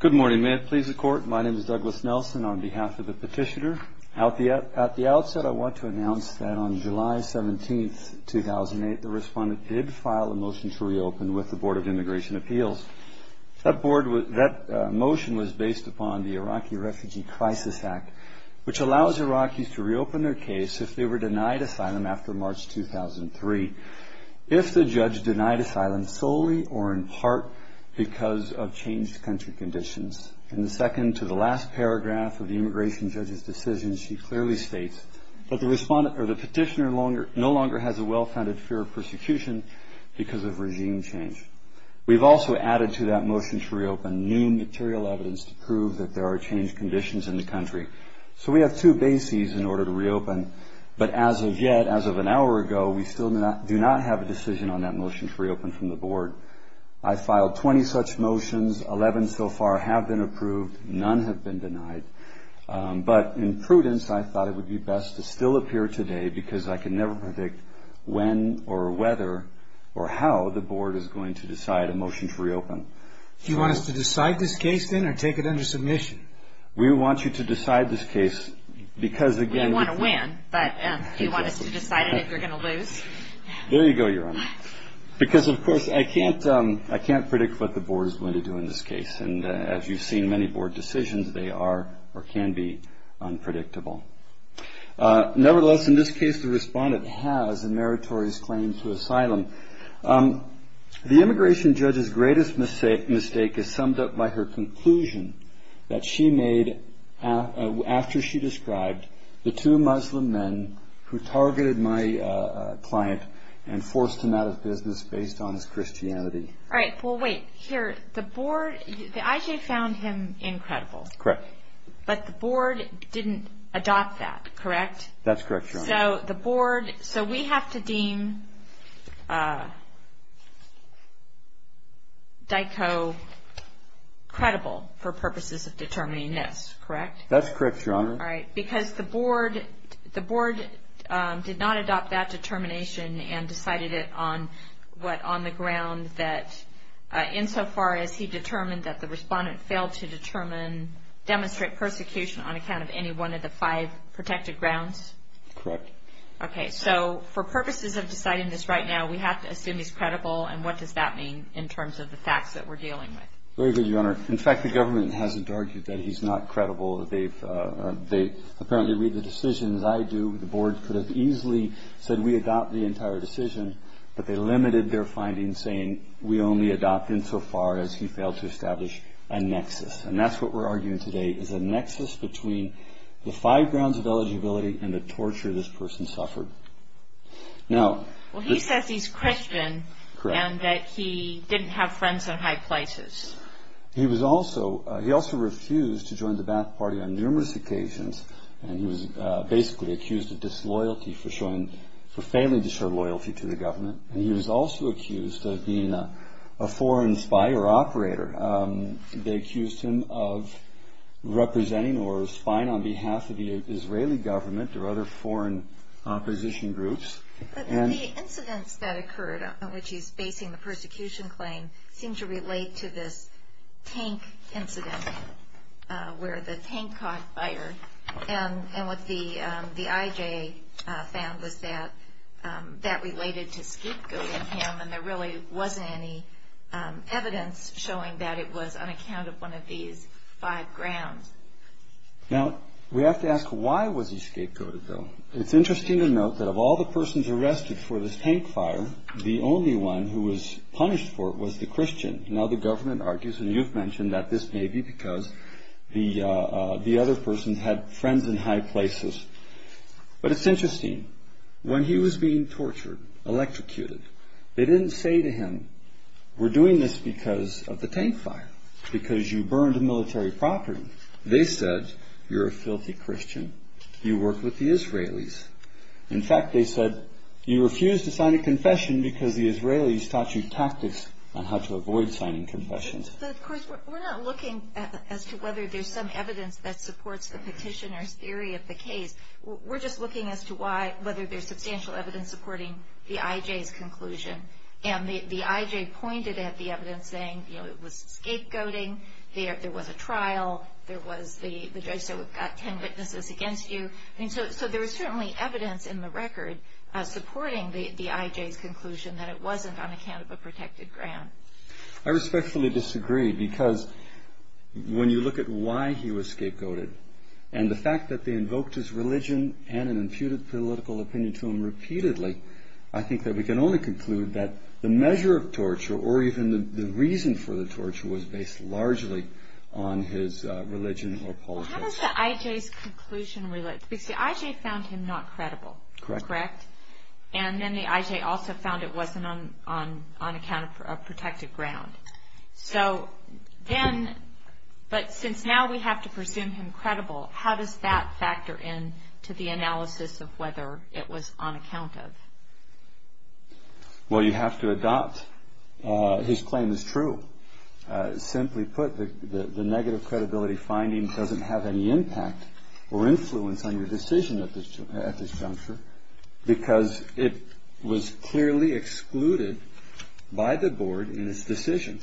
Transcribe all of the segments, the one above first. Good morning. May it please the Court, my name is Douglas Nelson on behalf of the petitioner. At the outset, I want to announce that on July 17, 2008, the respondent did file a motion to reopen with the Board of Immigration Appeals. That motion was based upon the Iraqi Refugee Crisis Act, which allows Iraqis to reopen their case if they were denied asylum after March 2003. If the judge denied asylum solely or in part because of changed country conditions, in the second to the last paragraph of the immigration judge's decision, she clearly states that the petitioner no longer has a well-founded fear of persecution because of regime change. We've also added to that motion to reopen new material evidence to prove that there are changed conditions in the country. So we have two bases in order to reopen, but as of yet, as of an hour ago, we still do not have a decision on that motion to reopen from the Board. I filed 20 such motions, 11 so far have been approved, none have been denied. But in prudence, I thought it would be best to still appear today because I can never predict when or whether or how the Board is going to decide a motion to reopen. Do you want us to decide this case then or take it under submission? We want you to decide this case because, again- We want to win, but do you want us to decide it if you're going to lose? There you go, Your Honor. Because, of course, I can't predict what the Board is going to do in this case. And as you've seen, many Board decisions, they are or can be unpredictable. Nevertheless, in this case, the respondent has a meritorious claim to asylum. The immigration judge's greatest mistake is summed up by her conclusion that she made after she described the two Muslim men who targeted my client and forced him out of business based on his Christianity. All right, well, wait. Here, the Board, the IJ found him incredible. Correct. But the Board didn't adopt that, correct? That's correct, Your Honor. So we have to deem Dyko credible for purposes of determining this, correct? That's correct, Your Honor. All right, because the Board did not adopt that determination and decided it on what on the ground that, insofar as he determined that the respondent failed to demonstrate persecution on account of any one of the five protected grounds? Correct. Okay, so for purposes of deciding this right now, we have to assume he's credible. And what does that mean in terms of the facts that we're dealing with? Very good, Your Honor. In fact, the government hasn't argued that he's not credible. They apparently read the decisions I do. The Board could have easily said we adopt the entire decision, but they limited their findings, saying we only adopt insofar as he failed to establish a nexus. And that's what we're arguing today is a nexus between the five grounds of eligibility and the torture this person suffered. Well, he says he's Christian and that he didn't have friends in high places. He also refused to join the Ba'ath Party on numerous occasions, and he was basically accused of disloyalty for failing to show loyalty to the government. And he was also accused of being a foreign spy or operator. They accused him of representing or spying on behalf of the Israeli government or other foreign opposition groups. But the incidents that occurred in which he's basing the persecution claim seem to relate to this tank incident where the tank caught fire. And what the IJA found was that that related to scapegoating him, and there really wasn't any evidence showing that it was on account of one of these five grounds. Now, we have to ask why was he scapegoated, though? It's interesting to note that of all the persons arrested for this tank fire, the only one who was punished for it was the Christian. Now, the government argues, and you've mentioned that this may be because the other person had friends in high places. But it's interesting. When he was being tortured, electrocuted, they didn't say to him, we're doing this because of the tank fire, because you burned a military property. They said, you're a filthy Christian. You work with the Israelis. In fact, they said, you refuse to sign a confession because the Israelis taught you tactics on how to avoid signing confessions. But, of course, we're not looking as to whether there's some evidence that supports the petitioner's theory of the case. We're just looking as to whether there's substantial evidence supporting the IJ's conclusion. And the IJ pointed at the evidence saying, you know, it was scapegoating. There was a trial. There was the judge said, we've got ten witnesses against you. So there was certainly evidence in the record supporting the IJ's conclusion that it wasn't on account of a protected ground. I respectfully disagree because when you look at why he was scapegoated and the fact that they invoked his religion and an imputed political opinion to him repeatedly, I think that we can only conclude that the measure of torture or even the reason for the torture was based largely on his religion or politics. How does the IJ's conclusion relate? Because the IJ found him not credible. Correct. Correct. And then the IJ also found it wasn't on account of a protected ground. So then, but since now we have to presume him credible, how does that factor in to the analysis of whether it was on account of? Well, you have to adopt his claim as true. Simply put, the negative credibility finding doesn't have any impact or influence on your decision at this juncture because it was clearly excluded by the board in its decision.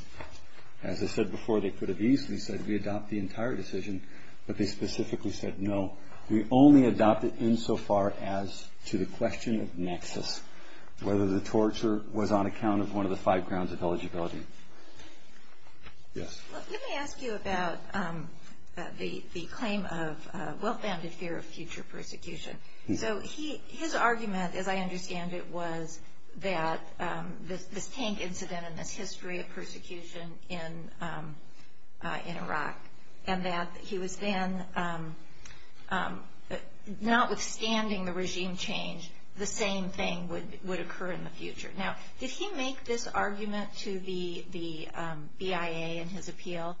As I said before, they could have easily said we adopt the entire decision, but they specifically said no. We only adopt it insofar as to the question of nexus, whether the torture was on account of one of the five grounds of eligibility. Yes. Let me ask you about the claim of well-founded fear of future persecution. So his argument, as I understand it, was that this tank incident and this history of persecution in Iraq and that he was then, notwithstanding the regime change, the same thing would occur in the future. Now, did he make this argument to the BIA in his appeal?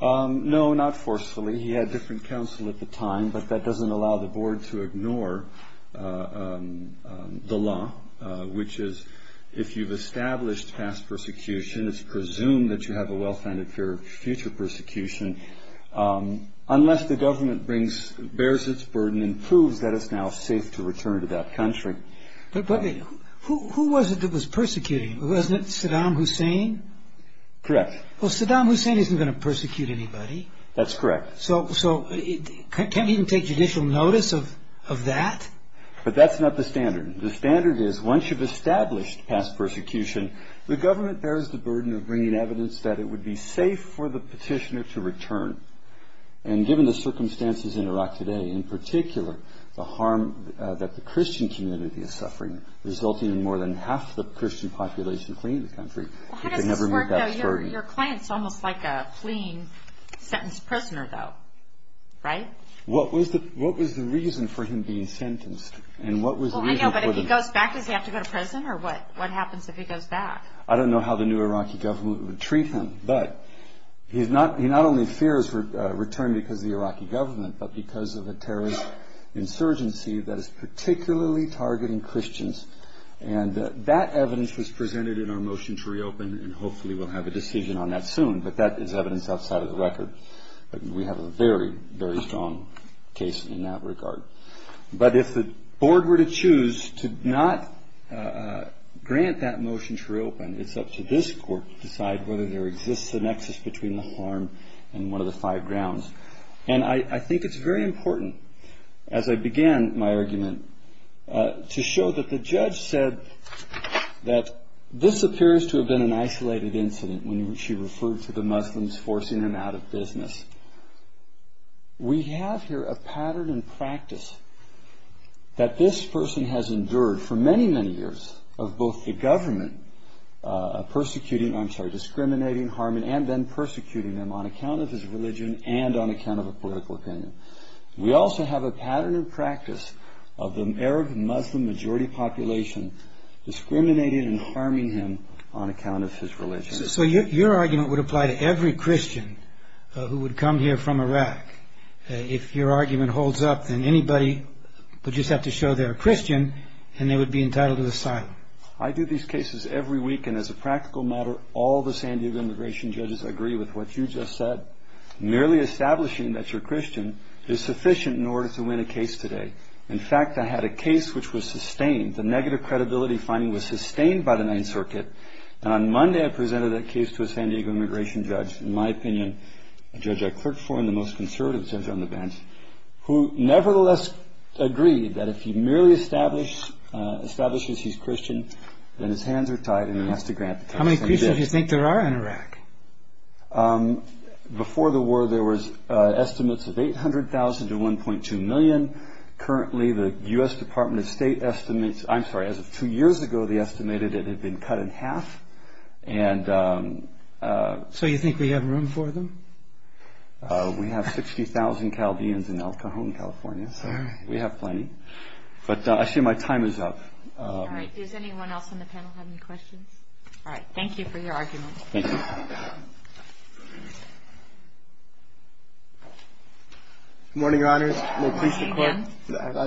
No, not forcefully. He had different counsel at the time, but that doesn't allow the board to ignore the law, which is if you've established past persecution, it's presumed that you have a well-founded fear of future persecution, unless the government bears its burden and proves that it's now safe to return to that country. But who was it that was persecuting? Wasn't it Saddam Hussein? Correct. Well, Saddam Hussein isn't going to persecute anybody. That's correct. So can't he even take judicial notice of that? But that's not the standard. The standard is once you've established past persecution, the government bears the burden of bringing evidence that it would be safe for the petitioner to return. And given the circumstances in Iraq today, in particular the harm that the Christian community is suffering, resulting in more than half the Christian population fleeing the country, they never meet that burden. How does this work, though? Your client's almost like a fleeing sentenced prisoner, though, right? What was the reason for him being sentenced? I know, but if he goes back, does he have to go to prison? Or what happens if he goes back? I don't know how the new Iraqi government would treat him. But he not only fears return because of the Iraqi government, but because of a terrorist insurgency that is particularly targeting Christians. And that evidence was presented in our motion to reopen, and hopefully we'll have a decision on that soon. But that is evidence outside of the record. We have a very, very strong case in that regard. But if the board were to choose to not grant that motion to reopen, it's up to this court to decide whether there exists a nexus between the harm and one of the five grounds. And I think it's very important, as I began my argument, to show that the judge said that this appears to have been an isolated incident when she referred to the Muslims forcing them out of business. We have here a pattern and practice that this person has endured for many, many years of both the government discriminating, harming, and then persecuting them on account of his religion and on account of a political opinion. We also have a pattern and practice of the Arab Muslim majority population discriminating and harming him on account of his religion. So your argument would apply to every Christian who would come here from Iraq. If your argument holds up, then anybody would just have to show they're a Christian and they would be entitled to asylum. I do these cases every week, and as a practical matter, all the San Diego immigration judges agree with what you just said. Merely establishing that you're a Christian is sufficient in order to win a case today. In fact, I had a case which was sustained. The negative credibility finding was sustained by the Ninth Circuit. On Monday, I presented that case to a San Diego immigration judge, in my opinion, a judge I clerked for in the most conservative center on the bench, who nevertheless agreed that if he merely establishes he's Christian, then his hands are tied and he has to grant asylum. How many Christians do you think there are in Iraq? Before the war, there was estimates of 800,000 to 1.2 million. Currently, the U.S. Department of State estimates, I'm sorry, as of two years ago, they estimated it had been cut in half. So you think we have room for them? We have 60,000 Calvians in El Cajon, California, so we have plenty. But I assume my time is up. All right. Does anyone else on the panel have any questions? All right. Thank you for your argument. Thank you. Good morning, Your Honors. Good morning.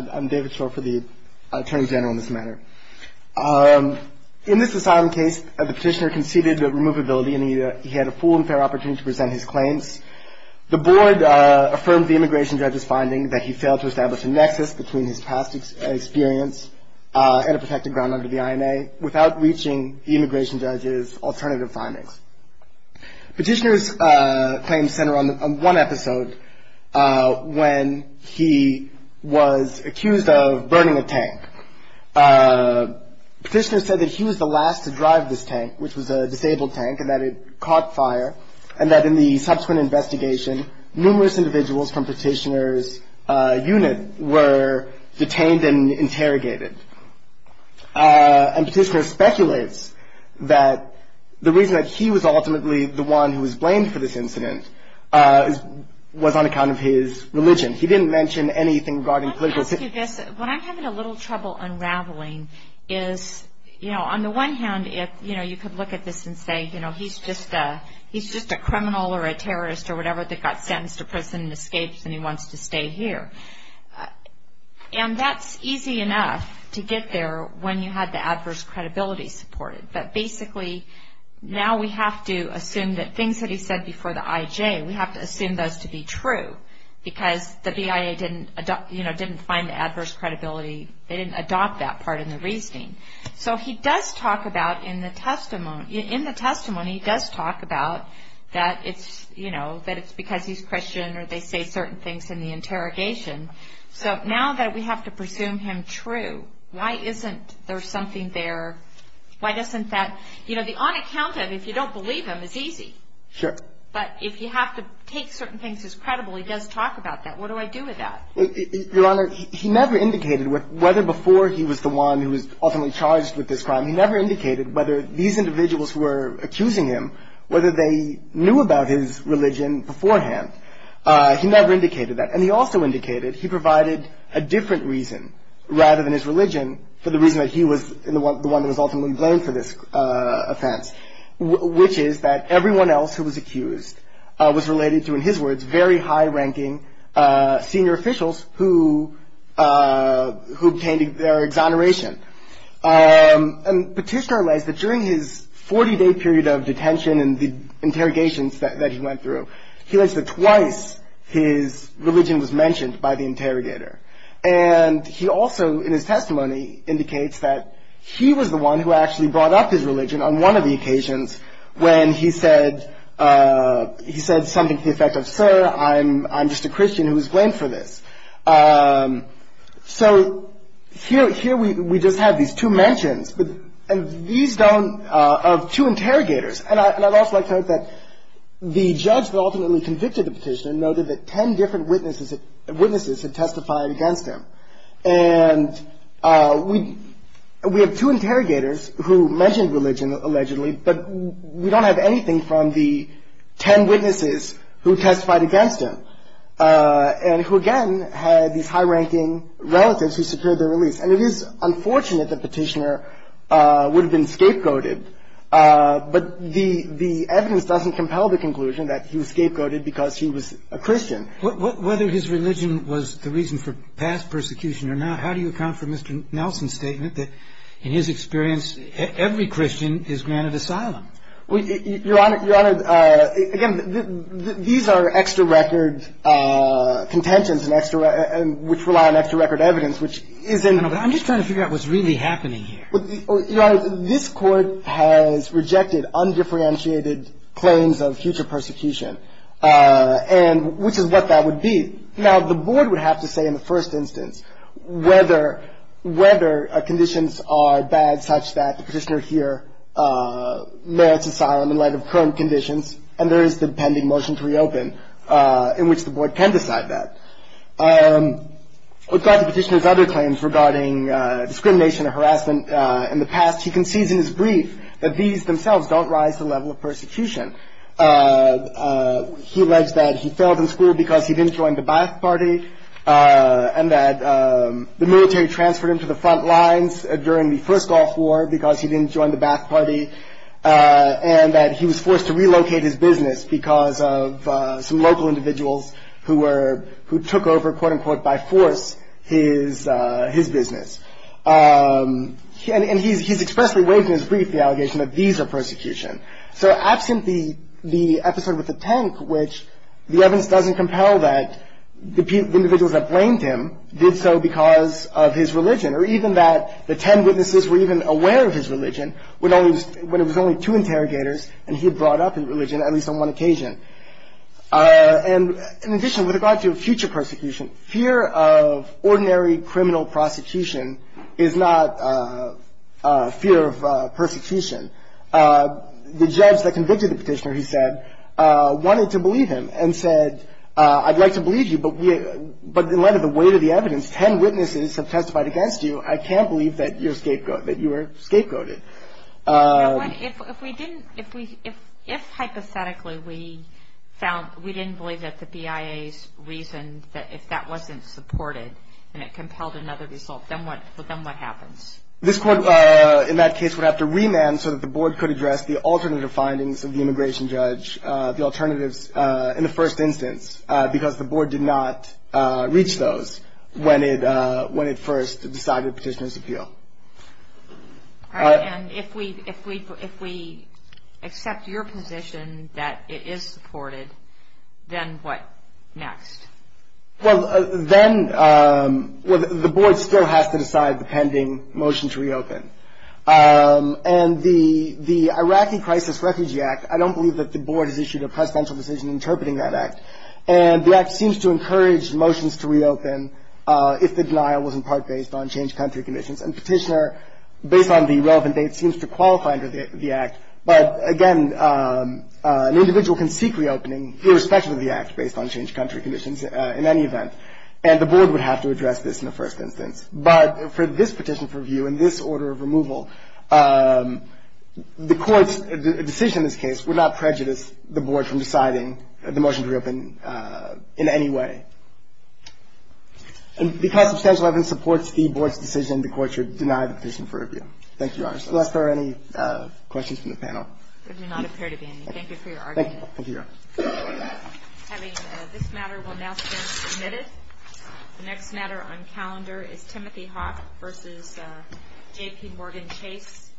I'm David Shore for the Attorney General in this matter. In this asylum case, the petitioner conceded that removability and he had a full and fair opportunity to present his claims. The board affirmed the immigration judge's finding that he failed to establish a nexus between his past experience and a protected ground under the INA without reaching the immigration judge's alternative findings. Petitioner's claims center on one episode when he was accused of burning a tank. Petitioner said that he was the last to drive this tank, which was a disabled tank, and that it caught fire, and that in the subsequent investigation, numerous individuals from Petitioner's unit were detained and interrogated. And Petitioner speculates that the reason that he was ultimately the one who was blamed for this incident was on account of his religion. He didn't mention anything regarding political... Let me ask you this. When I'm having a little trouble unraveling is, you know, on the one hand, if, you know, you could look at this and say, you know, he's just a criminal or a terrorist or whatever that got sentenced to prison and escapes and he wants to stay here. And that's easy enough to get there when you have the adverse credibility supported. But basically, now we have to assume that things that he said before the IJ, we have to assume those to be true because the BIA didn't adopt, you know, didn't find the adverse credibility. They didn't adopt that part in the reasoning. So he does talk about in the testimony, he does talk about that it's, you know, that it's because he's Christian or they say certain things in the interrogation. So now that we have to presume him true, why isn't there something there, why doesn't that... You know, the on account of, if you don't believe him, is easy. Sure. But if you have to take certain things as credible, he does talk about that. What do I do with that? Your Honor, he never indicated whether before he was the one who was ultimately charged with this crime, he never indicated whether these individuals who were accusing him, whether they knew about his religion beforehand. He never indicated that. And he also indicated he provided a different reason rather than his religion for the reason that he was the one that was ultimately blamed for this offense, which is that everyone else who was accused was related to, in his words, very high-ranking senior officials who obtained their exoneration. And Petitioner alleged that during his 40-day period of detention and the interrogations that he went through, he alleged that twice his religion was mentioned by the interrogator. And he also, in his testimony, indicates that he was the one who actually brought up his religion on one of the occasions when he said something to the effect of, sir, I'm just a Christian who was blamed for this. So here we just have these two mentions, but these don't, of two interrogators. And I'd also like to note that the judge that ultimately convicted the Petitioner noted that ten different witnesses had testified against him. And we have two interrogators who mentioned religion allegedly, but we don't have anything from the ten witnesses who testified against him, and who, again, had these high-ranking relatives who secured their release. And it is unfortunate that Petitioner would have been scapegoated, but the evidence doesn't compel the conclusion that he was scapegoated because he was a Christian. Whether his religion was the reason for past persecution or not, how do you account for Mr. Nelson's statement that, in his experience, every Christian is granted asylum? Your Honor, again, these are extra-record contentions, which rely on extra-record evidence, which isn't — I'm just trying to figure out what's really happening here. Your Honor, this Court has rejected undifferentiated claims of future persecution, which is what that would be. Now, the Board would have to say in the first instance whether conditions are bad such that the Petitioner here merits asylum in light of current conditions, and there is the pending motion to reopen in which the Board can decide that. With regard to Petitioner's other claims regarding discrimination and harassment in the past, he concedes in his brief that these themselves don't rise to the level of persecution. He alleged that he failed in school because he didn't join the Ba'ath Party and that the military transferred him to the front lines during the first Gulf War because he didn't join the Ba'ath Party, and that he was forced to relocate his business because of some local individuals who were — who took over, quote-unquote, by force, his business. And he's expressly waived in his brief the allegation that these are persecution. So absent the episode with the tank, which the evidence doesn't compel that the individuals that blamed him did so because of his religion, or even that the ten witnesses were even aware of his religion when it was only two interrogators and he had brought up his religion, at least on one occasion. And in addition, with regard to future persecution, fear of ordinary criminal prosecution is not fear of persecution. The judge that convicted the Petitioner, he said, wanted to believe him and said, I'd like to believe you, but in light of the weight of the evidence, ten witnesses have testified against you. I can't believe that you were scapegoated. If we didn't — if hypothetically we found — we didn't believe that the BIA's reason, that if that wasn't supported and it compelled another result, then what happens? This court, in that case, would have to remand so that the board could address the alternative findings of the immigration judge, the alternatives in the first instance, because the board did not reach those when it first decided Petitioner's appeal. All right. And if we accept your position that it is supported, then what next? Well, then the board still has to decide the pending motion to reopen. And the Iraqi Crisis Refugee Act, I don't believe that the board has issued a presidential decision interpreting that act. And the act seems to encourage motions to reopen if the denial was in part based on changed country conditions. And Petitioner, based on the relevant dates, seems to qualify under the act. But, again, an individual can seek reopening irrespective of the act based on changed country conditions in any event. And the board would have to address this in the first instance. But for this petition for review and this order of removal, the court's decision in this case would not prejudice the board from deciding the motion to reopen in any way. And because substantial evidence supports the board's decision, the court should deny the petition for review. Thank you, Your Honor. Unless there are any questions from the panel. There do not appear to be any. Thank you for your argument. Thank you. Thank you, Your Honor. Having this matter will now stand submitted. The next matter on calendar is Timothy Hawk v. J.P. Morgan Chase.